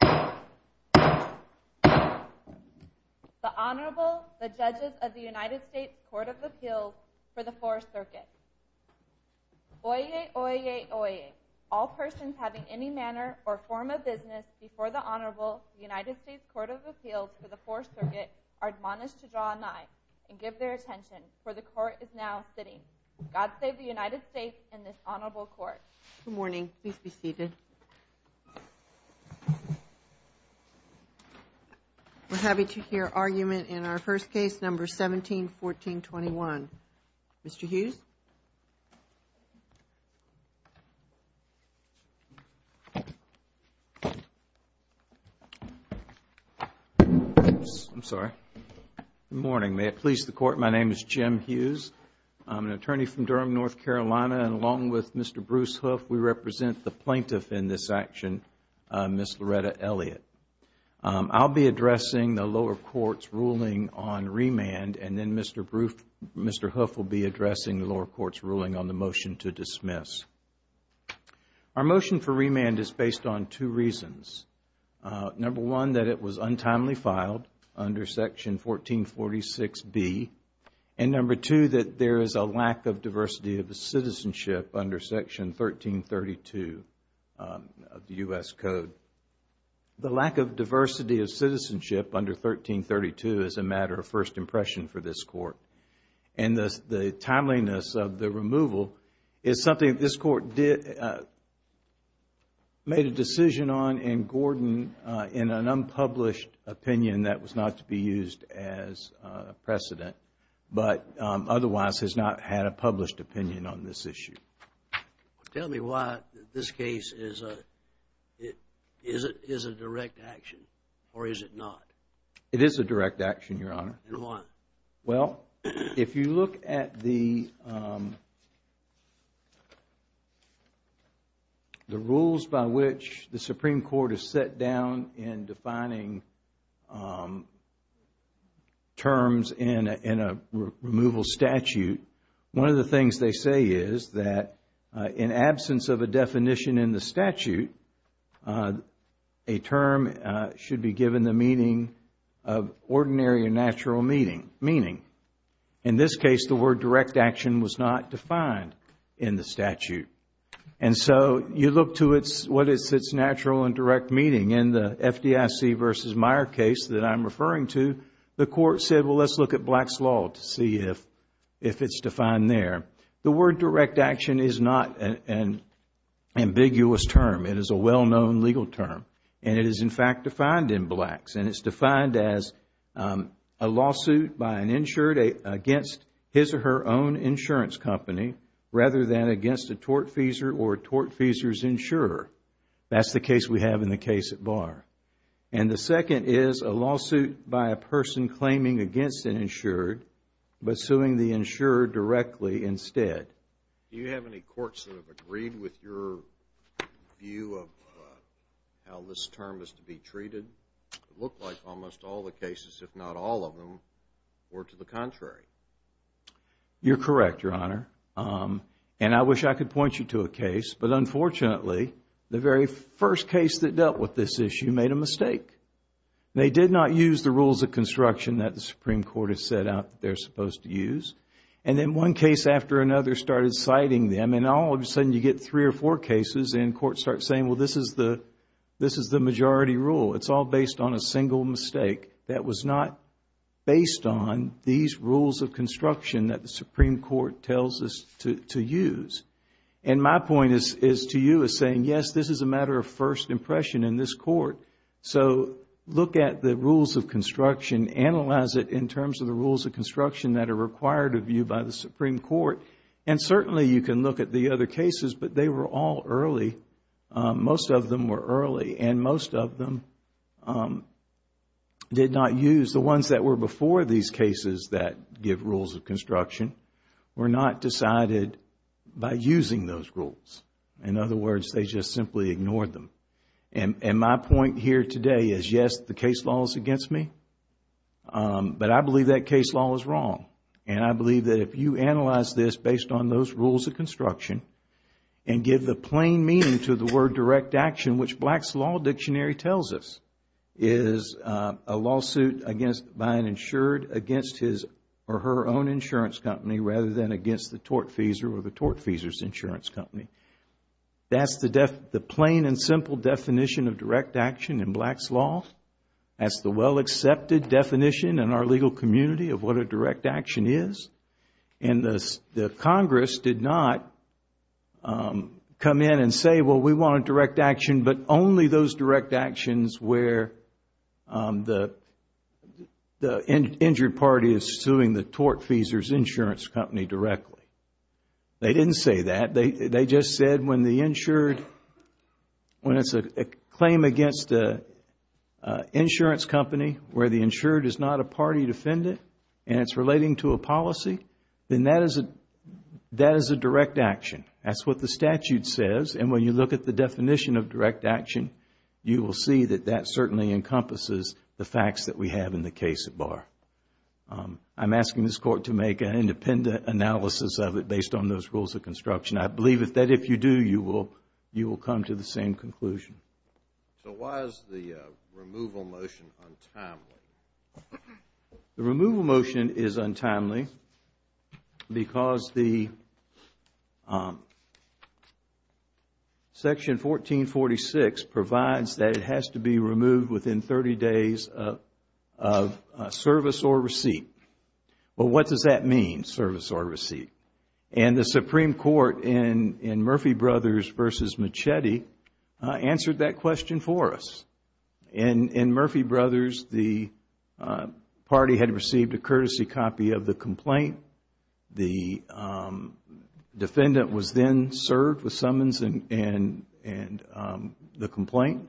The Honorable, the Judges of the United States Court of Appeals for the 4th Circuit. Oyez, oyez, oyez, all persons having any manner or form of business before the Honorable, the United States Court of Appeals for the 4th Circuit, are admonished to draw an eye and give their attention, for the Court is now sitting. God save the United States and this Honorable Court. Good morning. Please be seated. We're happy to hear argument in our first case, number 171421. Mr. Hughes? I'm sorry. Good morning. May it please the Court, my name is Jim Hughes. I'm an attorney from Durham, North Carolina, and along with Mr. Bruce Hoof, we represent the plaintiff in this action, Ms. Loretta Elliott. I'll be addressing the lower court's ruling on remand and then Mr. Hoof will be addressing the lower court's ruling on the motion to dismiss. Our motion for remand is based on two reasons. Number one, that it was untimely filed under section 1446B. And number two, that there is a lack of diversity of citizenship under section 1332 of the U.S. Code. The lack of diversity of citizenship under 1332 is a matter of first impression for this court. And the timeliness of the removal is something that this court made a decision on in Gordon in an unpublished opinion that was not to be used as a precedent, but otherwise has not had a published opinion on this issue. Tell me why this case is a direct action or is it not? It is a direct action, Your Honor. And why? Well, if you look at the rules by which the Supreme Court has set down in defining terms in a removal statute, one of the things they say is that in absence of a definition in the statute, a term should be given the meaning of ordinary or natural meaning. In this case, the word direct action was not defined in the statute. And so you look to what is its natural and direct meaning. In the FDIC v. Meyer case that I'm referring to, the court said, well, let's look at Black's Law to see if it's defined there. The word direct action is not an ambiguous term. It is a well-known legal term. And it is, in fact, defined in Black's. And it's defined as a lawsuit by an insured against his or her own insurance company rather than against a tortfeasor or a tortfeasor's insurer. That's the case we have in the case at Barr. And the second is a lawsuit by a person claiming against an insured, but suing the insurer directly instead. Do you have any courts that have agreed with your view of how this term is to be treated? It looked like almost all the cases, if not all of them, were to the contrary. You're correct, Your Honor. And I wish I could point you to a case. But unfortunately, the very first case that dealt with this issue made a mistake. They did not use the rules of construction that the Supreme Court has set out that they're supposed to use. And then one case after another started citing them. And all of a sudden, you get three or four cases and courts start saying, well, this is the majority rule. It's all based on a single mistake. That was not based on these rules of construction that the Supreme Court tells us to use. And my point to you is saying, yes, this is a matter of first impression in this court. So look at the rules of construction. Analyze it in terms of the rules of construction that are required of you by the Supreme Court. And certainly, you can look at the other cases, but they were all early. Most of them were early. And most of them did not use the ones that were before these cases that give rules of construction, were not decided by using those rules. In other words, they just simply ignored them. And my point here today is, yes, the case law is against me. But I believe that case law is wrong. And I believe that if you analyze this based on those rules of construction and give the plain meaning to the word direct action, which Black's Law Dictionary tells us is a lawsuit by an insured against his or her own insurance company rather than against the tortfeasor or the tortfeasor's insurance company. That's the plain and simple definition of direct action in Black's Law. That's the well-accepted definition in our legal community of what a direct action is. And the Congress did not come in and say, well, we want a direct action, but only those direct actions where the injured party is suing the tortfeasor's insurance company directly. They didn't say that. They just said when the insured, when it's a claim against an insurance company where the insured is not a party defendant and it's relating to a policy, then that is a direct action. That's what the statute says. And when you look at the definition of direct action, you will see that that certainly encompasses the facts that we have in the case at bar. I'm asking this Court to make an independent analysis of it based on those rules of construction. I believe that if you do, you will come to the same conclusion. So why is the removal motion untimely? The removal motion is untimely because the Section 1446 provides that it has to be removed within 30 days of service or receipt. And the Supreme Court in Murphy Brothers v. Machete answered that question for us. In Murphy Brothers, the party had received a courtesy copy of the complaint. The defendant was then served with summons and the complaint.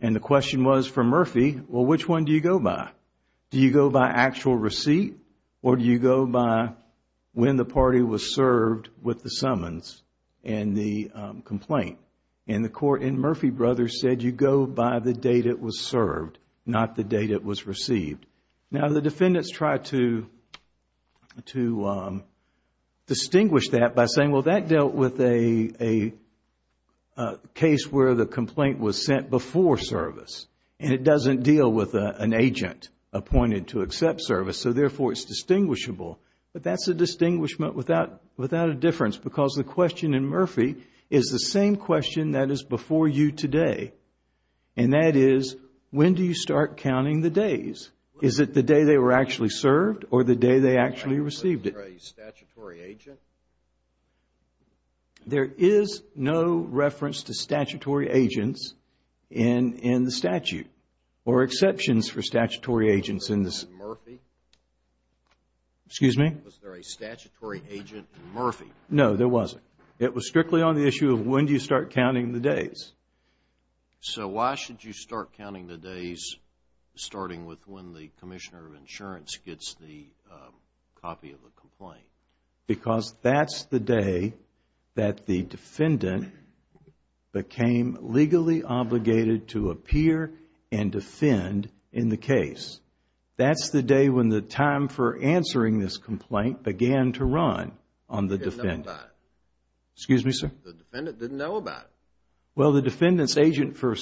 And the question was for Murphy, well, which one do you go by? Do you go by actual receipt or do you go by when the party was served with the summons and the complaint? And the Court in Murphy Brothers said you go by the date it was served, not the date it was received. Now, the defendants tried to distinguish that by saying, well, that dealt with a case where the complaint was sent before service. And it doesn't deal with an agent appointed to accept service. So, therefore, it's distinguishable. But that's a distinguishment without a difference because the question in Murphy is the same question that is before you today. And that is, when do you start counting the days? Is it the day they were actually served or the day they actually received it? Was there a statutory agent? There is no reference to statutory agents in the statute or exceptions for statutory Was there a statutory agent in Murphy? Excuse me? Was there a statutory agent in Murphy? No, there wasn't. It was strictly on the issue of when do you start counting the days. So, why should you start counting the days starting with when the Commissioner of Insurance gets the copy of the complaint? Because that's the day that the defendant became legally obligated to appear and defend in the case. That's the day when the time for answering this complaint began to run on the defendant. Didn't know about it. Excuse me, sir? The defendant didn't know about it. Well, the defendant's agent for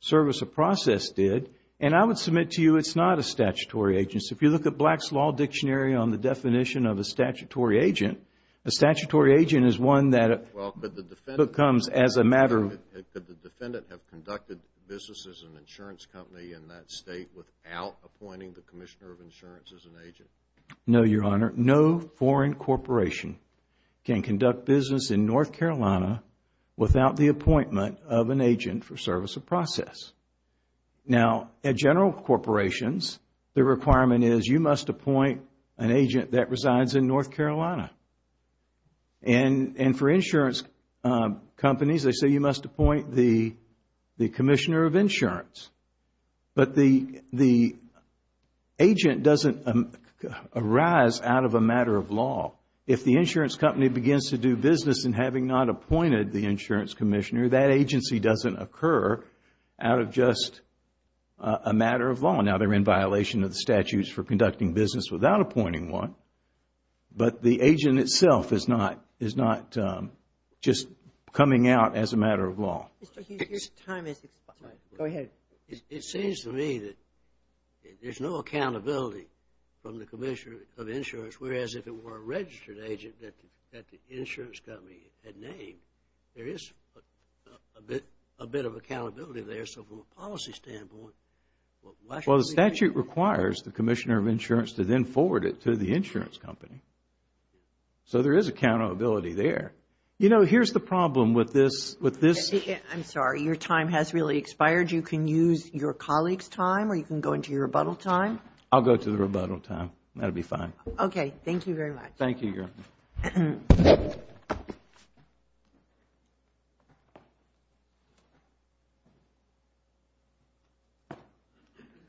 service or process did. And I would submit to you it's not a statutory agent. So, if you look at Black's Law Dictionary on the definition of a statutory agent, a statutory agent is one that becomes as a matter of Could the defendant have conducted business as an insurance company in that state without appointing the Commissioner of Insurance as an agent? No, Your Honor. No foreign corporation can conduct business in North Carolina without the appointment of an agent for service or process. Now, at general corporations, the requirement is you must appoint an agent that resides in North Carolina. And for insurance companies, they say you must appoint the Commissioner of Insurance. But the agent doesn't arise out of a matter of law. If the insurance company begins to do business in having not appointed the insurance commissioner, that agency doesn't occur out of just a matter of law. Now, they're in violation of the statutes for conducting business without appointing one, but the agent itself is not just coming out as a matter of law. Mr. Hughes, your time is expired. Go ahead. It seems to me that there's no accountability from the Commissioner of Insurance, whereas if it were a registered agent that the insurance company had named, there is a bit of accountability there. So from a policy standpoint, why should we? Well, the statute requires the Commissioner of Insurance to then forward it to the insurance company. So there is accountability there. You know, here's the problem with this. I'm sorry. Your time has really expired. You can use your colleague's time or you can go into your rebuttal time. I'll go to the rebuttal time. That will be fine. Okay. Thank you very much. Thank you, Your Honor.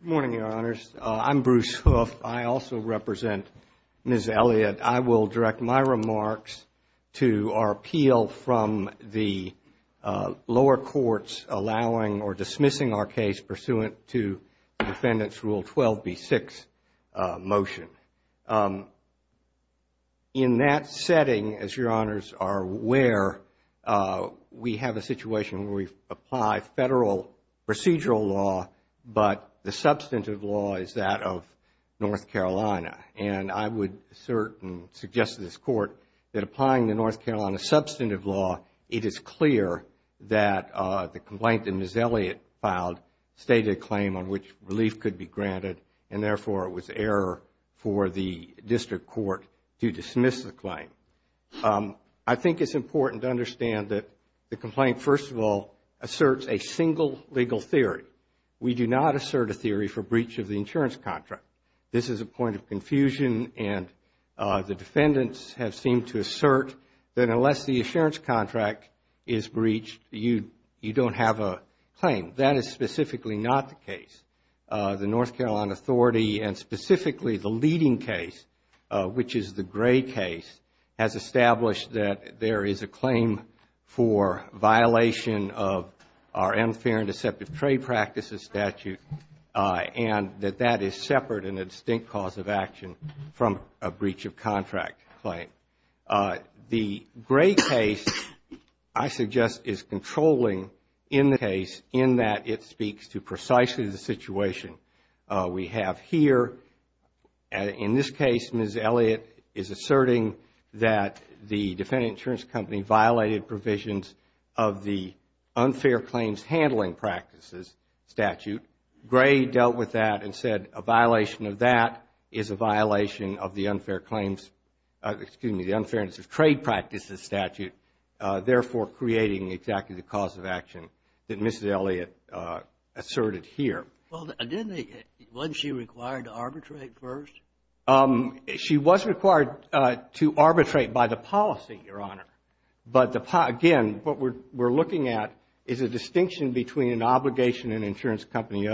Good morning, Your Honors. I'm Bruce Hoof. I also represent Ms. Elliott. I will direct my remarks to our appeal from the lower courts allowing or dismissing our motion. In that setting, as Your Honors are aware, we have a situation where we apply federal procedural law, but the substantive law is that of North Carolina. And I would assert and suggest to this Court that applying the North Carolina substantive law, it is clear that the complaint that Ms. Elliott filed stated a claim on which relief could be granted and therefore it was error for the district court to dismiss the claim. I think it's important to understand that the complaint, first of all, asserts a single legal theory. We do not assert a theory for breach of the insurance contract. This is a point of confusion and the defendants have seemed to assert that unless the insurance not the case. The North Carolina Authority and specifically the leading case, which is the Gray case, has established that there is a claim for violation of our unfair and deceptive trade practices statute and that that is separate and a distinct cause of action from a breach of contract claim. The Gray case, I suggest, is controlling in the case in that it speaks to precisely the situation we have here. In this case, Ms. Elliott is asserting that the defendant insurance company violated provisions of the unfair claims handling practices statute. Gray dealt with that and said a violation of that is a violation of the unfair claims excuse me, the unfairness of trade practices statute. Therefore, creating exactly the cause of action that Ms. Elliott asserted here. Well, didn't they, wasn't she required to arbitrate first? She was required to arbitrate by the policy, Your Honor. But again, what we're looking at is a distinction between an obligation an insurance company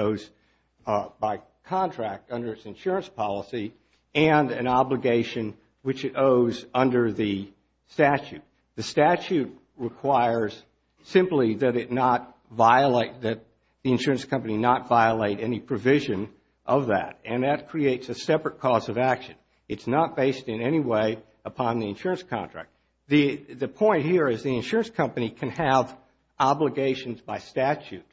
by contract under its insurance policy and an obligation which it owes under the statute. The statute requires simply that the insurance company not violate any provision of that. And that creates a separate cause of action. It's not based in any way upon the insurance contract. The point here is the insurance company can have obligations by statute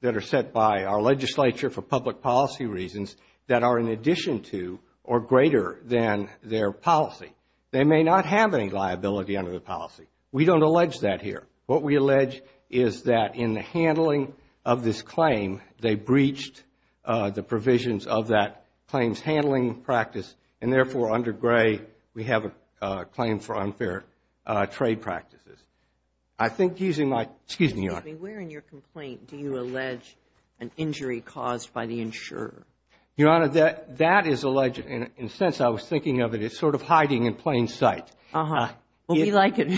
that are set by our legislature for public policy reasons that are in addition to or greater than their policy. They may not have any liability under the policy. We don't allege that here. What we allege is that in the handling of this claim they breached the provisions of that claims handling practice and therefore under Gray we have a claim for unfair trade practices. I think using my, excuse me, Your Honor. Where in your complaint do you allege an injury caused by the insurer? Your Honor, that is alleged and since I was thinking of it, it's sort of hiding in plain sight. Uh-huh. Well, we like it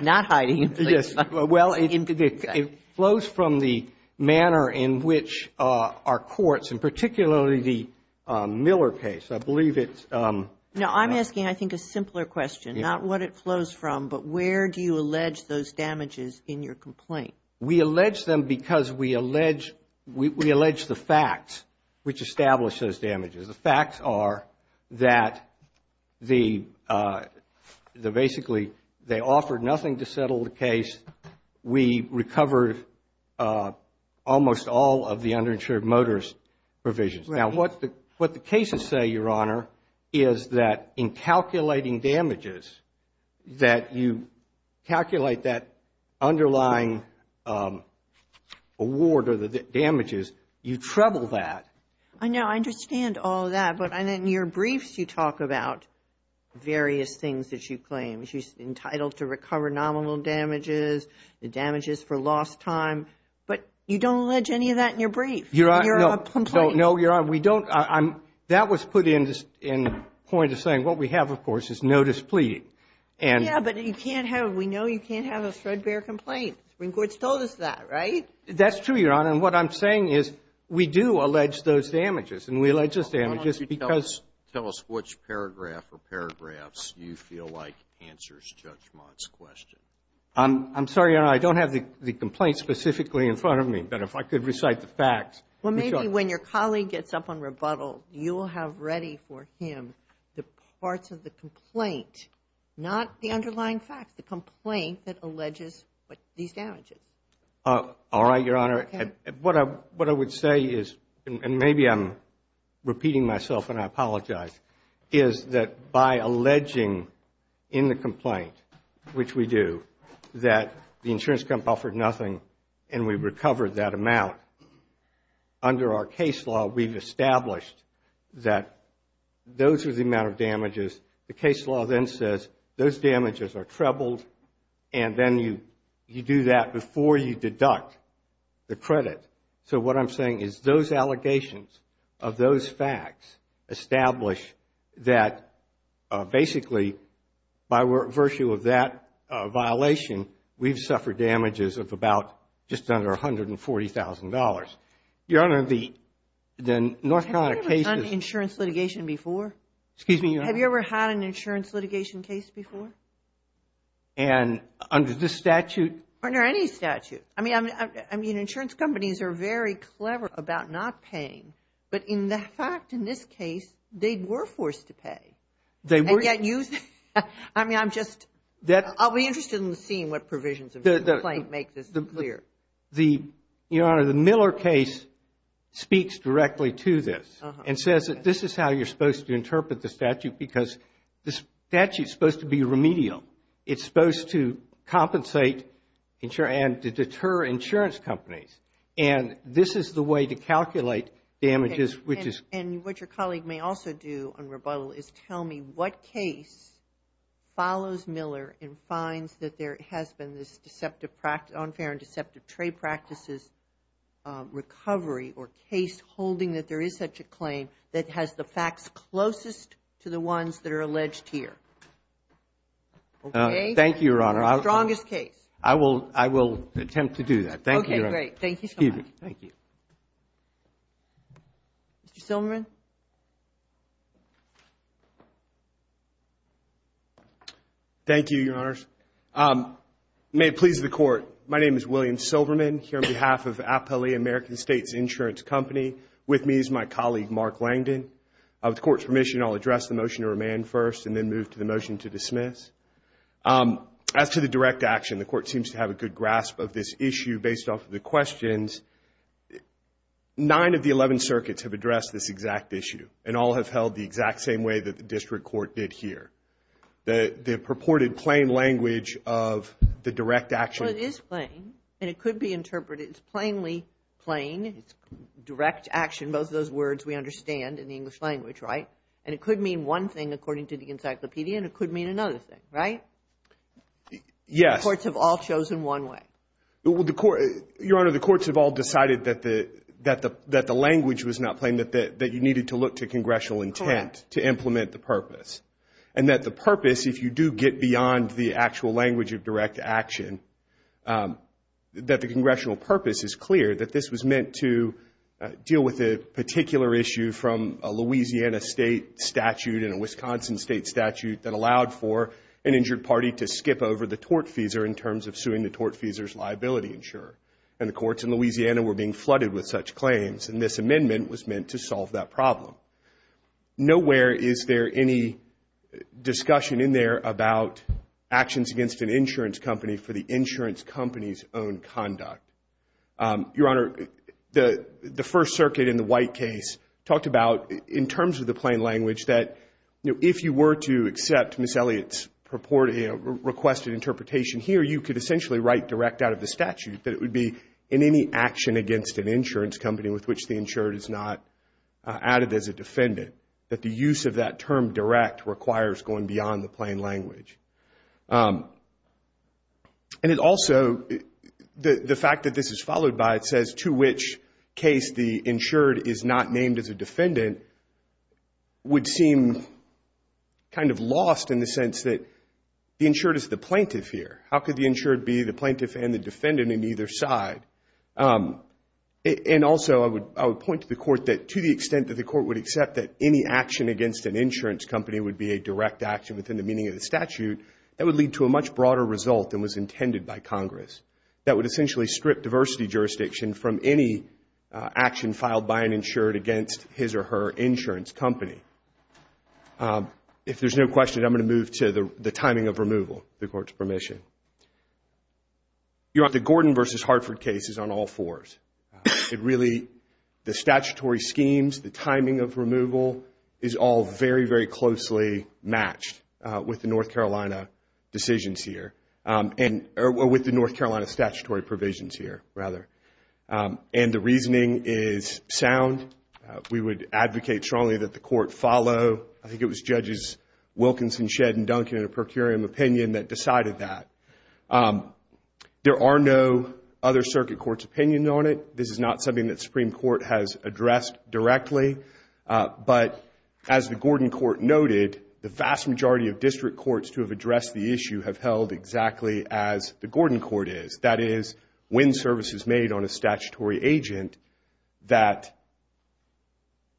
not hiding in plain sight. Yes. Well, it flows from the manner in which our courts and particularly the Miller case, I believe it's. No, I'm asking I think a simpler question, not what it flows from, but where do you allege those damages in your complaint? We allege them because we allege the facts which establish those damages. The facts are that the basically they offered nothing to settle the case. We recovered almost all of the underinsured motorist provisions. Now, what the cases say, Your Honor, is that in calculating damages that you calculate that underlying award or the damages, you treble that. I know. I understand all of that, but in your briefs you talk about various things that you claim. You're entitled to recover nominal damages, the damages for lost time, but you don't allege any of that in your brief. Your Honor, no. Your complaint. No, Your Honor, we don't. That was put in point of saying what we have, of course, is no displeasing. Yeah, but you can't have, we know you can't have a threadbare complaint. The Supreme Court's told us that, right? That's true, Your Honor, and what I'm saying is we do allege those damages, and we allege those damages because. Tell us which paragraph or paragraphs you feel like answers Judge Mott's question. I'm sorry, Your Honor, I don't have the complaint specifically in front of me, but if I could recite the facts. Well, maybe when your colleague gets up on rebuttal, you will have ready for him the parts of the complaint, not the underlying facts, the complaint that alleges these damages. All right, Your Honor. Okay. What I would say is, and maybe I'm repeating myself and I apologize, is that by alleging in the complaint, which we do, that the insurance company offered nothing and we recovered that amount. Under our case law, we've established that those are the amount of damages. The case law then says those damages are trebled, and then you do that before you deduct the credit. So what I'm saying is those allegations of those facts establish that, basically, by virtue of that violation, we've suffered damages of about just under $140,000. Your Honor, the North Carolina case is... Have you ever done insurance litigation before? Excuse me, Your Honor? Have you ever had an insurance litigation case before? And under this statute... Under any statute. I mean, insurance companies are very clever about not paying, but in the fact in this case, they were forced to pay. And yet you... I mean, I'm just... I'll be interested in seeing what provisions of the complaint make this clear. The, Your Honor, the Miller case speaks directly to this and says that this is how you're supposed to interpret the statute because the statute's supposed to be remedial. It's supposed to compensate and to deter insurance companies. And this is the way to calculate damages, which is... Can you tell me what case follows Miller and finds that there has been this unfair and deceptive trade practices recovery or case holding that there is such a claim that has the facts closest to the ones that are alleged here? Thank you, Your Honor. The strongest case. I will attempt to do that. Thank you, Your Honor. Okay, great. Thank you so much. Excuse me. Thank you. Mr. Silverman? Thank you, Your Honors. May it please the Court. My name is William Silverman here on behalf of Appellee American States Insurance Company. With me is my colleague, Mark Langdon. With the Court's permission, I'll address the motion to remand first and then move to the motion to dismiss. As to the direct action, the Court seems to have a good grasp of this issue based off of the questions. Nine of the 11 circuits have addressed this exact issue and all have held the exact same way that the district court did here. The purported plain language of the direct action. Well, it is plain, and it could be interpreted as plainly plain. It's direct action, both of those words we understand in the English language, right? And it could mean one thing according to the encyclopedia, and it could mean another thing, right? Yes. The courts have all chosen one way. Your Honor, the courts have all decided that the language was not plain, that you needed to look to congressional intent to implement the purpose, and that the purpose, if you do get beyond the actual language of direct action, that the congressional purpose is clear, that this was meant to deal with a particular issue from a Louisiana state statute and a Wisconsin state statute that allowed for an injured party to skip over the tortfeasor in terms of suing the tortfeasor's liability insurer. And the courts in Louisiana were being flooded with such claims, and this amendment was meant to solve that problem. Nowhere is there any discussion in there about actions against an insurance company for the insurance company's own conduct. Your Honor, the First Circuit in the White case talked about, in terms of the plain language, that if you were to accept Ms. Elliott's purported, requested interpretation here, you could essentially write direct out of the statute, that it would be in any action against an insurance company with which the insured is not added as a defendant, that the use of that term direct requires going beyond the plain language. And it also, the fact that this is followed by it says, to which case the insured is not named as a defendant, would seem kind of lost in the sense that the insured is the plaintiff here. How could the insured be the plaintiff and the defendant in either side? And also, I would point to the court that to the extent that the court would accept that any action against an insurance company would be a direct action within the meaning of the statute, that would lead to a much broader result than was intended by Congress, that would essentially strip diversity jurisdiction from any action filed by an insured against his or her insurance company. If there's no question, I'm going to move to the timing of removal, the court's permission. You're on the Gordon versus Hartford cases on all fours. It really, the statutory schemes, the timing of removal, is all very, very closely matched with the North Carolina decisions here, or with the North Carolina statutory provisions here, rather. And the reasoning is sound. We would advocate strongly that the court follow. I think it was Judges Wilkinson, Shedd, and Duncan in a per curiam opinion that decided that. There are no other circuit courts' opinions on it. This is not something that the Supreme Court has addressed directly. But as the Gordon Court noted, the vast majority of district courts to have addressed the issue have held exactly as the Gordon Court is. That is, when service is made on a statutory agent, that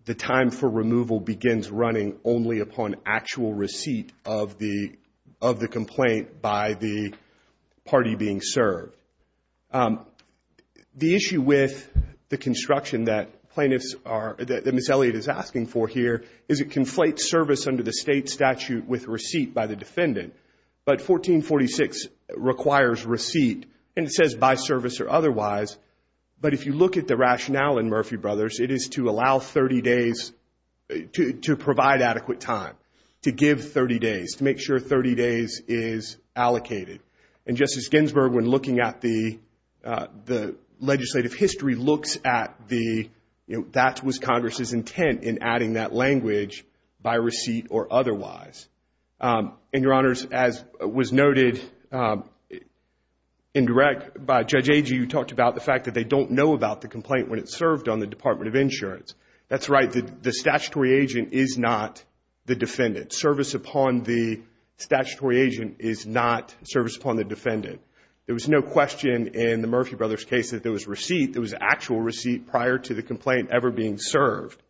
the time for removal begins running only upon actual receipt of the complaint by the party being served. The issue with the construction that plaintiffs are, that Ms. Elliott is asking for here, is it conflates service under the state statute with receipt by the defendant. But 1446 requires receipt, and it says by service or otherwise. But if you look at the rationale in Murphy Brothers, it is to allow 30 days, to provide adequate time, to give 30 days, to make sure 30 days is allocated. And Justice Ginsburg, when looking at the legislative history, looks at the, that was Congress' intent in adding that language, by receipt or otherwise. And, Your Honors, as was noted in direct by Judge Agee, who talked about the fact that they don't know about the complaint when it's served on the Department of Insurance. That's right, the statutory agent is not the defendant. Service upon the statutory agent is not service upon the defendant. There was no question in the Murphy Brothers case that there was receipt. There was actual receipt prior to the complaint ever being served.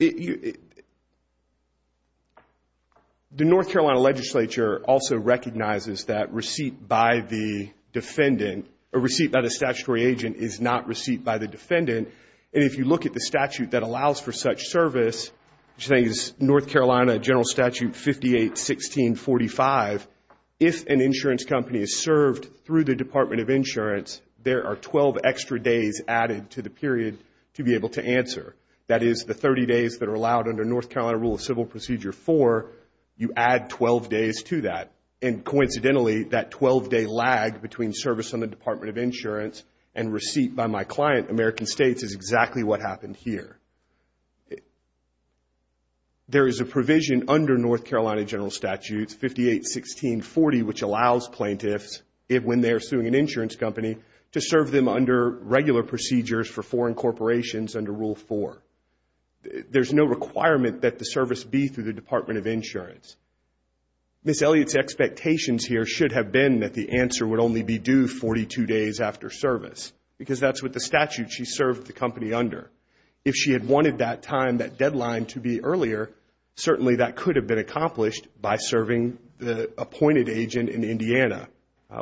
The North Carolina legislature also recognizes that receipt by the defendant, or receipt by the statutory agent, is not receipt by the defendant. And if you look at the statute that allows for such service, which I think is North Carolina General Statute 58-1645, if an insurance company is served through the Department of Insurance, there are 12 extra days added to the period to be able to answer. That is, the 30 days that are allowed under North Carolina Rule of Civil Procedure 4, you add 12 days to that. And coincidentally, that 12-day lag between service on the Department of Insurance and receipt by my client, American States, is exactly what happened here. There is a provision under North Carolina General Statute 58-1640, which allows plaintiffs, when they are suing an insurance company, to serve them under regular procedures for foreign corporations under Rule 4. There is no requirement that the service be through the Department of Insurance. Ms. Elliott's expectations here should have been that the answer would only be due 42 days after service, because that is what the statute she served the company under. If she had wanted that time, that deadline, to be earlier, certainly that could have been accomplished by serving the appointed agent in Indiana,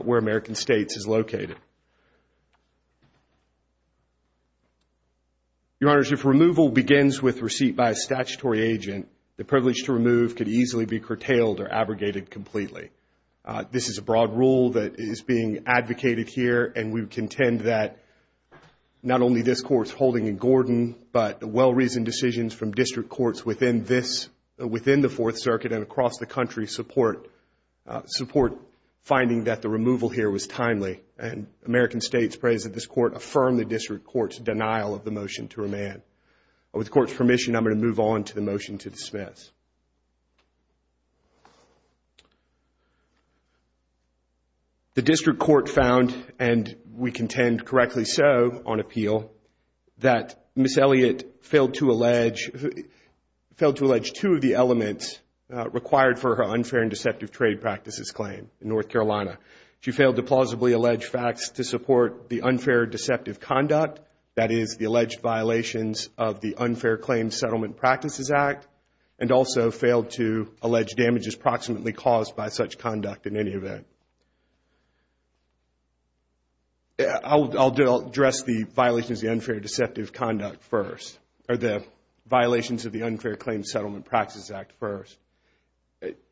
where American States is located. Your Honors, if removal begins with receipt by a statutory agent, the privilege to remove could easily be curtailed or abrogated completely. This is a broad rule that is being advocated here, and we contend that not only this Court's holding in Gordon, but well-reasoned decisions from district courts within this, within the Fourth Circuit and across the country, support finding that the removal here was timely. And American States prays that this Court affirm the district court's denial of the motion to remand. With the Court's permission, I'm going to move on to the motion to dismiss. The district court found, and we contend correctly so on appeal, that Ms. Elliott failed to allege two of the elements required for her unfair and deceptive trade practices claim in North Carolina. She failed to plausibly allege facts to support the unfair deceptive conduct, that is, the alleged violations of the Unfair Claims Settlement Practices Act, and also failed to allege damages proximately caused by such conduct in any event. I'll address the violations of the Unfair Claims Settlement Practices Act first.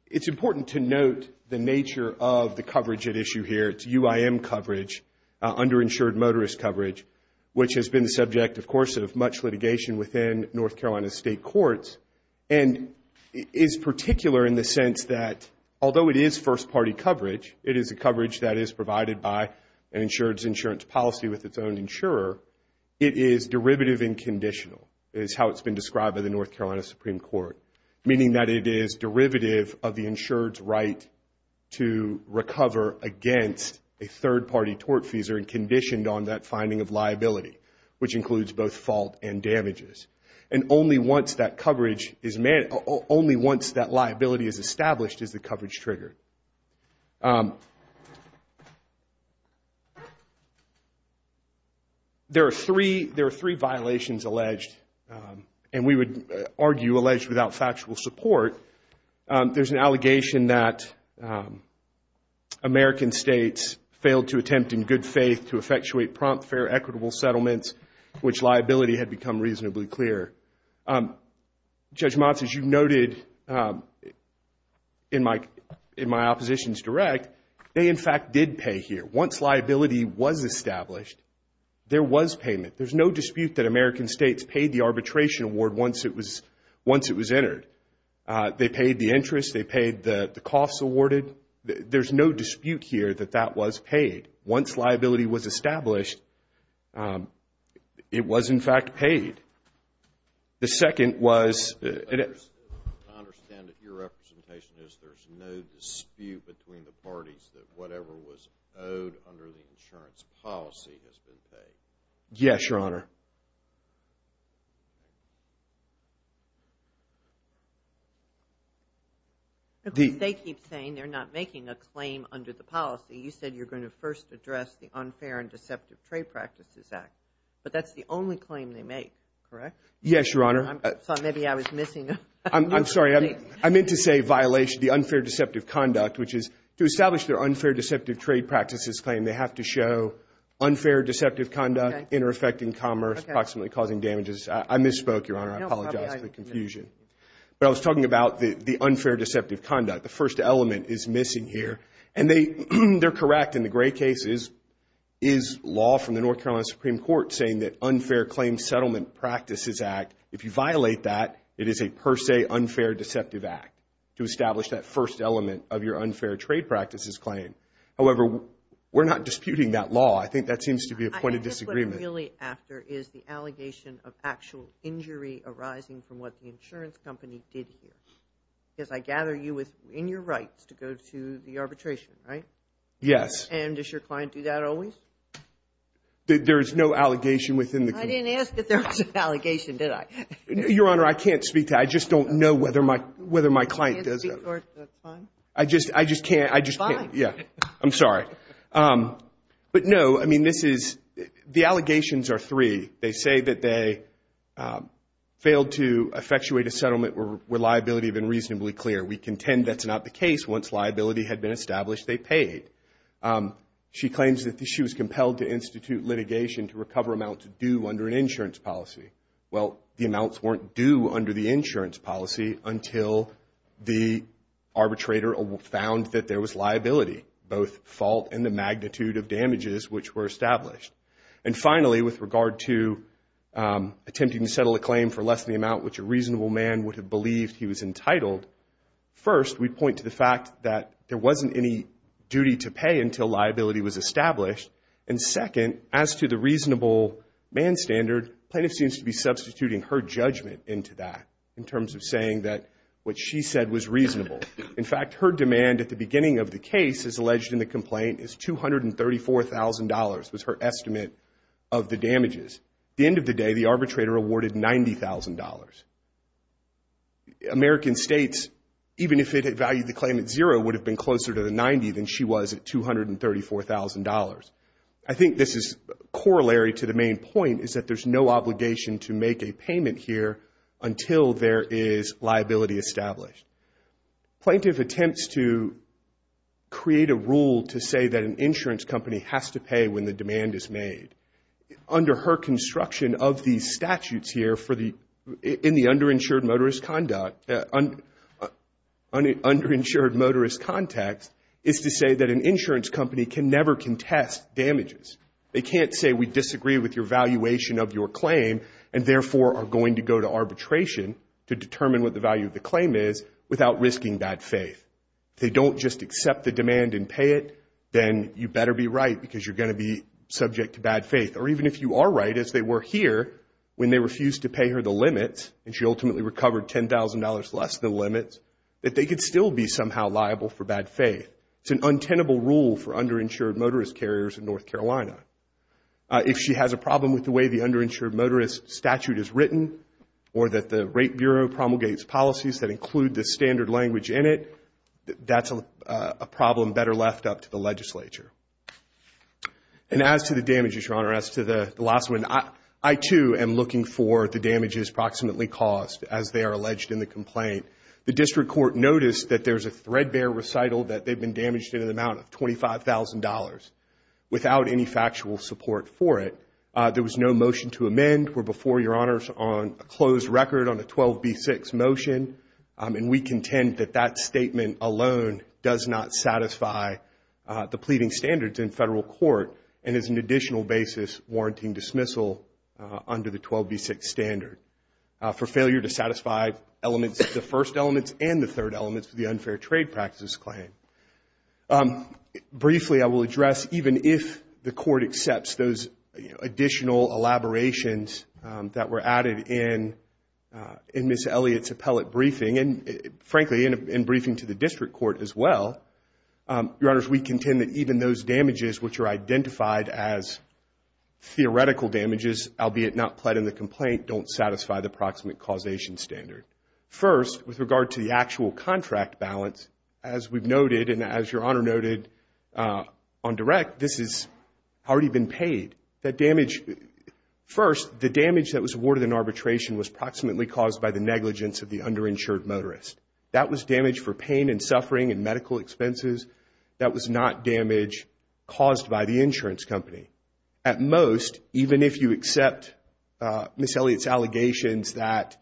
It's important to note the nature of the coverage at issue here. It's UIM coverage, underinsured motorist coverage, which has been the subject, of course, of much litigation within North Carolina's state courts, and is particular in the sense that, although it is first-party coverage, it is a coverage that is provided by an insured's insurance policy with its own insurer, it is derivative and conditional, is how it's been described by the North Carolina Supreme Court, meaning that it is derivative of the insured's right to recover against a third-party tortfeasor and conditioned on that finding of liability, which includes both fault and damages. And only once that liability is established is the coverage triggered. There are three violations alleged, and we would argue alleged without factual support. There's an allegation that American states failed to attempt in good faith to effectuate prompt, fair, equitable settlements, which liability had become reasonably clear. Judge Motz, as you noted in my opposition's direct, they in fact did pay here. Once liability was established, there was payment. There's no dispute that American states paid the arbitration award once it was entered. They paid the interest. They paid the costs awarded. There's no dispute here that that was paid. Once liability was established, it was in fact paid. The second was... I understand that your representation is there's no dispute between the parties that whatever was owed under the insurance policy has been paid. Yes, Your Honor. They keep saying they're not making a claim under the policy. You said you're going to first address the Unfair and Deceptive Trade Practices Act, but that's the only claim they make, correct? Yes, Your Honor. Maybe I was missing a... I'm sorry. I meant to say violation, the unfair deceptive conduct, which is to establish their unfair deceptive trade practices claim, they have to show unfair deceptive conduct, inter-effecting commerce, approximately causing damages. I misspoke, Your Honor. I apologize for the confusion. But I was talking about the unfair deceptive conduct. The first element is missing here. And they're correct in the gray cases is law from the North Carolina Supreme Court saying that Unfair Claim Settlement Practices Act, if you violate that, it is a per se unfair deceptive act to establish that first element of your unfair trade practices claim. However, we're not disputing that law. I think that seems to be a point of disagreement. I think what I'm really after is the allegation of actual injury arising from what the insurance company did here. Because I gather you in your rights to go to the arbitration, right? Yes. And does your client do that always? There is no allegation within the case. I didn't ask if there was an allegation, did I? Your Honor, I can't speak to that. I just don't know whether my client does that. That's fine. I just can't. It's fine. I'm sorry. But no, I mean, this is, the allegations are three. They say that they failed to effectuate a settlement where liability had been reasonably clear. We contend that's not the case. Once liability had been established, they paid. She claims that she was compelled to institute litigation to recover amounts due under an insurance policy. Well, the amounts weren't due under the insurance policy until the arbitrator found that there was liability, both fault and the magnitude of damages which were established. And finally, with regard to attempting to settle a claim for less than the amount which a reasonable man would have believed he was entitled, first, we point to the fact that there wasn't any duty to pay until liability was established. And second, as to the reasonable man standard, plaintiff seems to be substituting her judgment into that in terms of saying that what she said was reasonable. In fact, her demand at the beginning of the case as alleged in the complaint is $234,000 was her estimate of the damages. At the end of the day, the arbitrator awarded $90,000. American states, even if it had valued the claim at zero, would have been closer to the 90 than she was at $234,000. I think this is corollary to the main point is that there's no obligation to make a payment here until there is liability established. Plaintiff attempts to create a rule to say that an insurance company has to pay when the demand is made. Under her construction of these statutes here in the underinsured motorist context is to say that an insurance company can never contest damages. They can't say we disagree with your valuation of your claim and therefore are going to go to arbitration to determine what the value of the claim is without risking bad faith. If they don't just accept the demand and pay it, then you better be right because you're going to be subject to bad faith. Or even if you are right, as they were here, when they refused to pay her the limits and she ultimately recovered $10,000 less than the limits, that they could still be somehow liable for bad faith. It's an untenable rule for underinsured motorist carriers in North Carolina. If she has a problem with the way the underinsured motorist statute is written and the rate bureau promulgates policies that include the standard language in it, that's a problem better left up to the legislature. And as to the damages, Your Honor, as to the last one, I too am looking for the damages approximately caused as they are alleged in the complaint. The district court noticed that there's a threadbare recital that they've been damaged in an amount of $25,000 without any factual support for it. There was no motion to amend or before Your Honors on a closed record on the 12B6 motion. And we contend that that statement alone does not satisfy the pleading standards in federal court and is an additional basis warranting dismissal under the 12B6 standard for failure to satisfy elements of the first elements and the third elements of the unfair trade practices claim. Briefly, I will address, even if the court accepts those additional elaborations that were added in Ms. Elliott's appellate briefing, and frankly, in briefing to the district court as well, Your Honors, we contend that even those damages which are identified as theoretical damages, albeit not pled in the complaint, don't satisfy the approximate causation standard. First, with regard to the actual contract balance, as we've noted and as Your Honor noted on direct, this has already been paid. That damage, first, the damage that was awarded in arbitration was approximately caused by the negligence of the underinsured motorist. That was damage for pain and suffering and medical expenses. That was not damage caused by the insurance company. At most, even if you accept Ms. Elliott's allegations that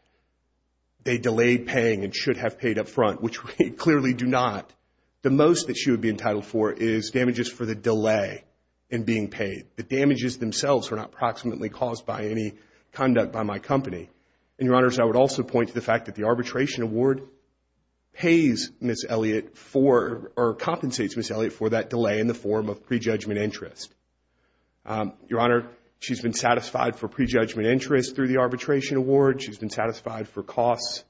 they delayed paying and should have paid up front, which we clearly do not, the most that she would be entitled for is damages for the delay in being paid. The damages themselves were not approximately caused by any conduct by my company. And Your Honors, I would also point to the fact that the arbitration award pays Ms. Elliott for, or compensates Ms. Elliott for that delay in the form of prejudgment interest. Your Honor, she's been satisfied for prejudgment interest through the arbitration award. She's been satisfied for costs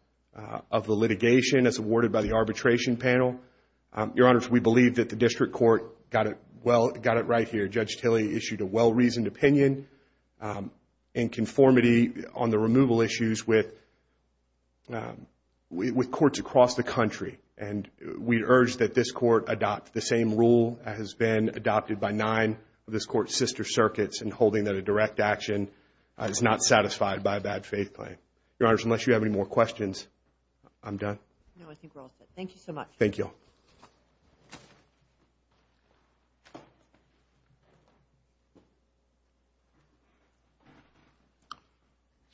of the litigation as awarded by the arbitration panel. Your Honors, we believe that the district court got it right here. Judge Tilley issued a well-reasoned opinion in conformity on the removal issues with courts across the country. And we urge that this court adopt the same rule that has been adopted by nine of this court's sister circuits in holding that a direct action is not satisfied by a bad faith claim. Your Honors, unless you have any more questions, I'm done. No, I think we're all set. Thank you so much. Thank you all. Thank you.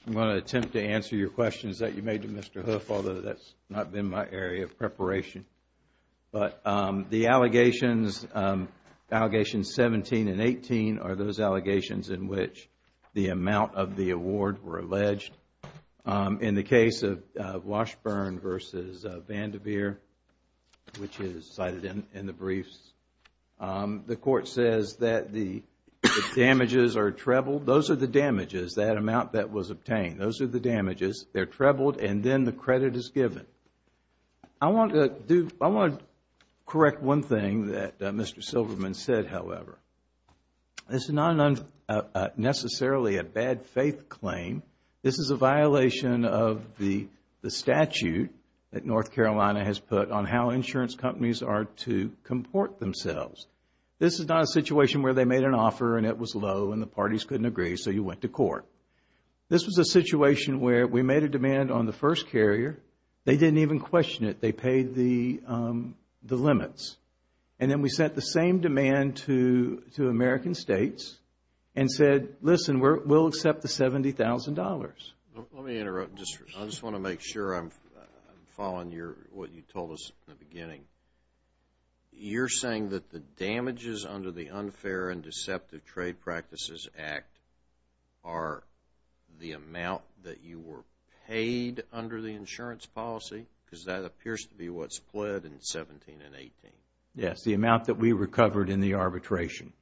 I'm going to attempt to answer your questions that you made to Mr. Hoof, although that's not been my area of preparation. But the allegations, allegations 17 and 18, are those allegations in which the amount of the award were alleged. In the case of Washburn v. Vandiver, which is cited in the briefs, the court says that the damages are trebled. Those are the damages, that amount that was obtained. Those are the damages. They're trebled and then the credit is given. I want to correct one thing that Mr. Silverman said, however. This is not necessarily a bad faith claim. This is a violation of the statute that North Carolina has put on how insurance companies are to comport themselves. This is not a situation where they made an offer and it was low and the parties couldn't agree, so you went to court. This was a situation where we made a demand on the first carrier. They didn't even question it. They paid the limits. And then we sent the same demand to American states and said, listen, we'll accept the $70,000. Let me interrupt. I just want to make sure I'm following what you told us in the beginning. You're saying that the damages under the Unfair and Deceptive Trade Practices Act are the amount that you were paid under the insurance policy because that appears to be what's pled in 17 and 18. Yes, the amount that we recovered in the arbitration,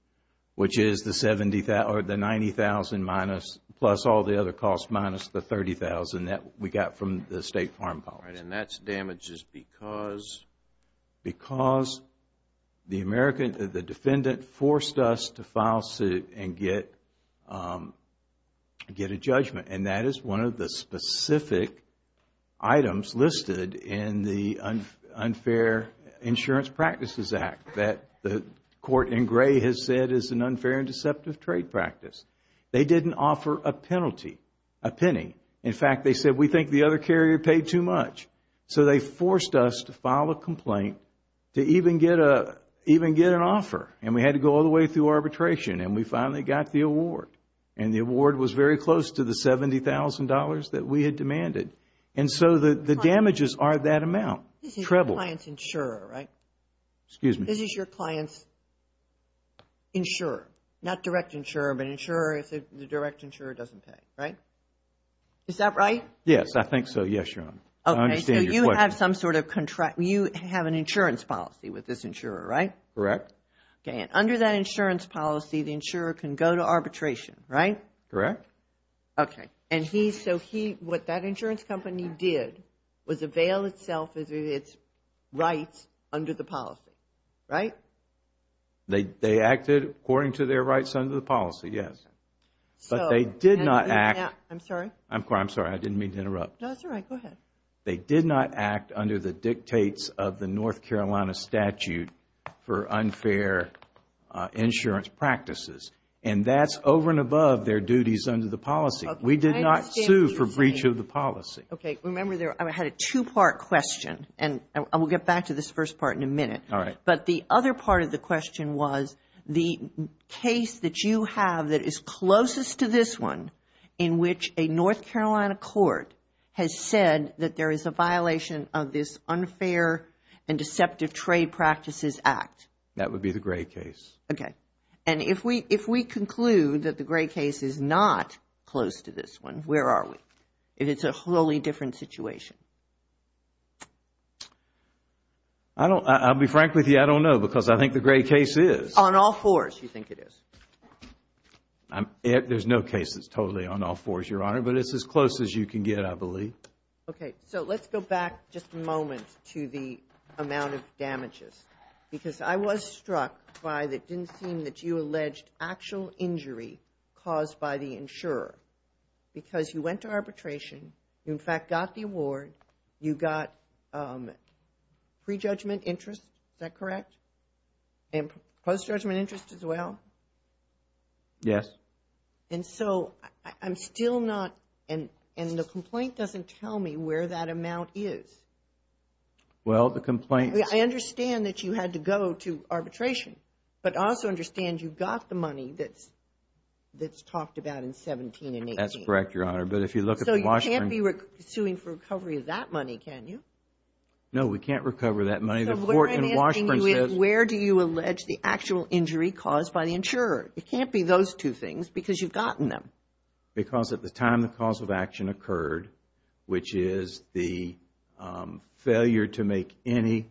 which is the $90,000 plus all the other costs minus the $30,000 that we got from the state farm policy. And that's damages because? Because the defendant forced us to file suit and get a judgment. And that is one of the specific items listed in the Unfair Insurance Practices Act that the court in gray has said is an unfair and deceptive trade practice. They didn't offer a penalty, a penny. In fact, they said, we think the other carrier paid too much. So they forced us to file a complaint to even get an offer. And we had to go all the way through arbitration. And we finally got the award. And the award was very close to the $70,000 that we had demanded. And so the damages are that amount, treble. This is your client's insurer, right? Excuse me. This is your client's insurer. Not direct insurer, but insurer if the direct insurer doesn't pay, right? Is that right? Yes, I think so. Yes, Your Honor. I understand your question. Okay, so you have some sort of contract. You have an insurance policy with this insurer, right? Correct. Okay, and under that insurance policy, the insurer can go to arbitration, right? Correct. Okay, and he, so he, what that insurance company did was avail itself of its rights under the policy, right? They acted according to their rights under the policy, yes. But they did not act. I'm sorry. I'm sorry, I didn't mean to interrupt. No, that's all right. Go ahead. They did not act under the dictates of the North Carolina statute for unfair insurance practices. And that's over and above their duties under the policy. We did not sue for breach of the policy. Okay, remember there, I had a two-part question. And we'll get back to this first part in a minute. All right. But the other part of the question was the case that you have that is closest to this one in which a North Carolina court has said that there is a violation of this unfair and deceptive trade practices act. That would be the Gray case. Okay, and if we conclude that the Gray case is not close to this one, where are we? If it's a wholly different situation? I'll be frank with you, I don't know because I think the Gray case is. On all fours, you think it is? There's no case that's totally on all fours, Your Honor. But it's as close as you can get, I believe. Okay, so let's go back just a moment to the amount of damages. Because I was struck by that it didn't seem that you alleged actual injury caused by the insurer. Because you went to arbitration. You, in fact, got the award. You got prejudgment interest. Is that correct? Yes. And post-judgment interest as well? Yes. And so, I'm still not, and the complaint doesn't tell me where that amount is. Well, the complaint. I understand that you had to go to arbitration. But I also understand you got the money that's talked about in 17 and 18. That's correct, Your Honor. So you can't be suing for recovery of that money, can you? No, we can't recover that money. Then where do you allege the actual injury caused by the insurer? It can't be those two things because you've gotten them. Because at the time the cause of action occurred, which is the failure to make any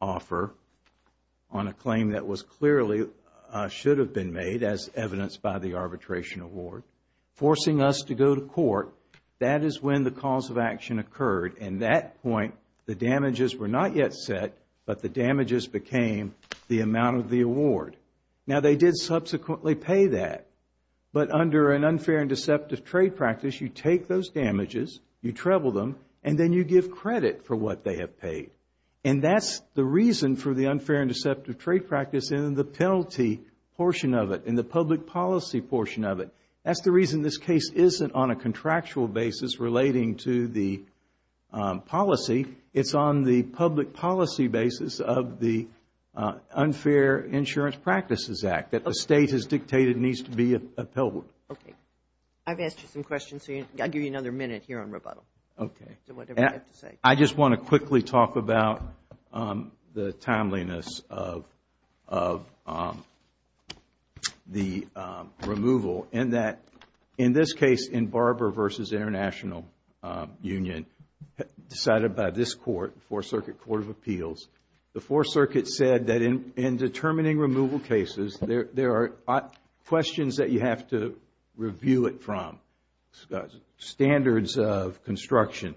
offer on a claim that was clearly, should have been made as evidenced by the arbitration award, forcing us to go to court, that is when the cause of action occurred. And that point, the damages were not yet set, the amount of the award. Now, they did subsequently pay that. But under an unfair and deceptive trade practice, you take those damages, you treble them, and then you give credit for what they have paid. And that's the reason for the unfair and deceptive trade practice and the penalty portion of it and the public policy portion of it. That's the reason this case isn't on a contractual basis relating to the policy. It's on the public policy basis of the Unfair Insurance Practices Act that the State has dictated needs to be upheld. Okay. I've asked you some questions, so I'll give you another minute here on rebuttal. Okay. I just want to quickly talk about the timeliness of the removal in that, in this case, in Barber v. International Union, decided by this Court, the Fourth Circuit Court of Appeals, the Fourth Circuit said that in determining removal cases, there are questions that you have to review it from, standards of construction.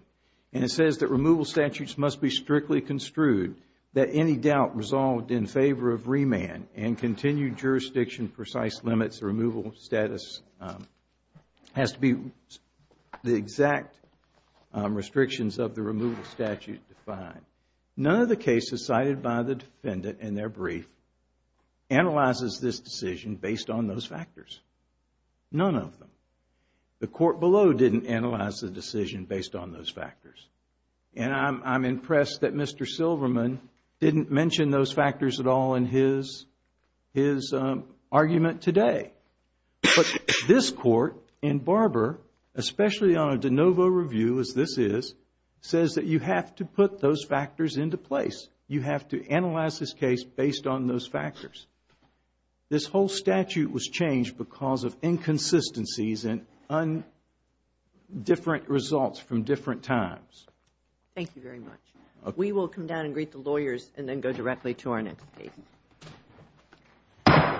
And it says that removal statutes must be strictly construed that any doubt resolved in favor of remand and continued jurisdiction precise limits of removal status has to be the exact restrictions of the removal statute defined. None of the cases cited by the defendant in their brief analyzes this decision based on those factors. None of them. The Court below didn't analyze the decision based on those factors. And I'm impressed that Mr. Silverman didn't mention those factors at all in his argument today. But this Court in Barber, especially on a de novo review as this is, says that you have to put those factors into place. You have to analyze this case based on those factors. This whole statute was changed because of inconsistencies and different results from different times. Thank you very much. We will come down and greet the lawyers and then go directly to our next case.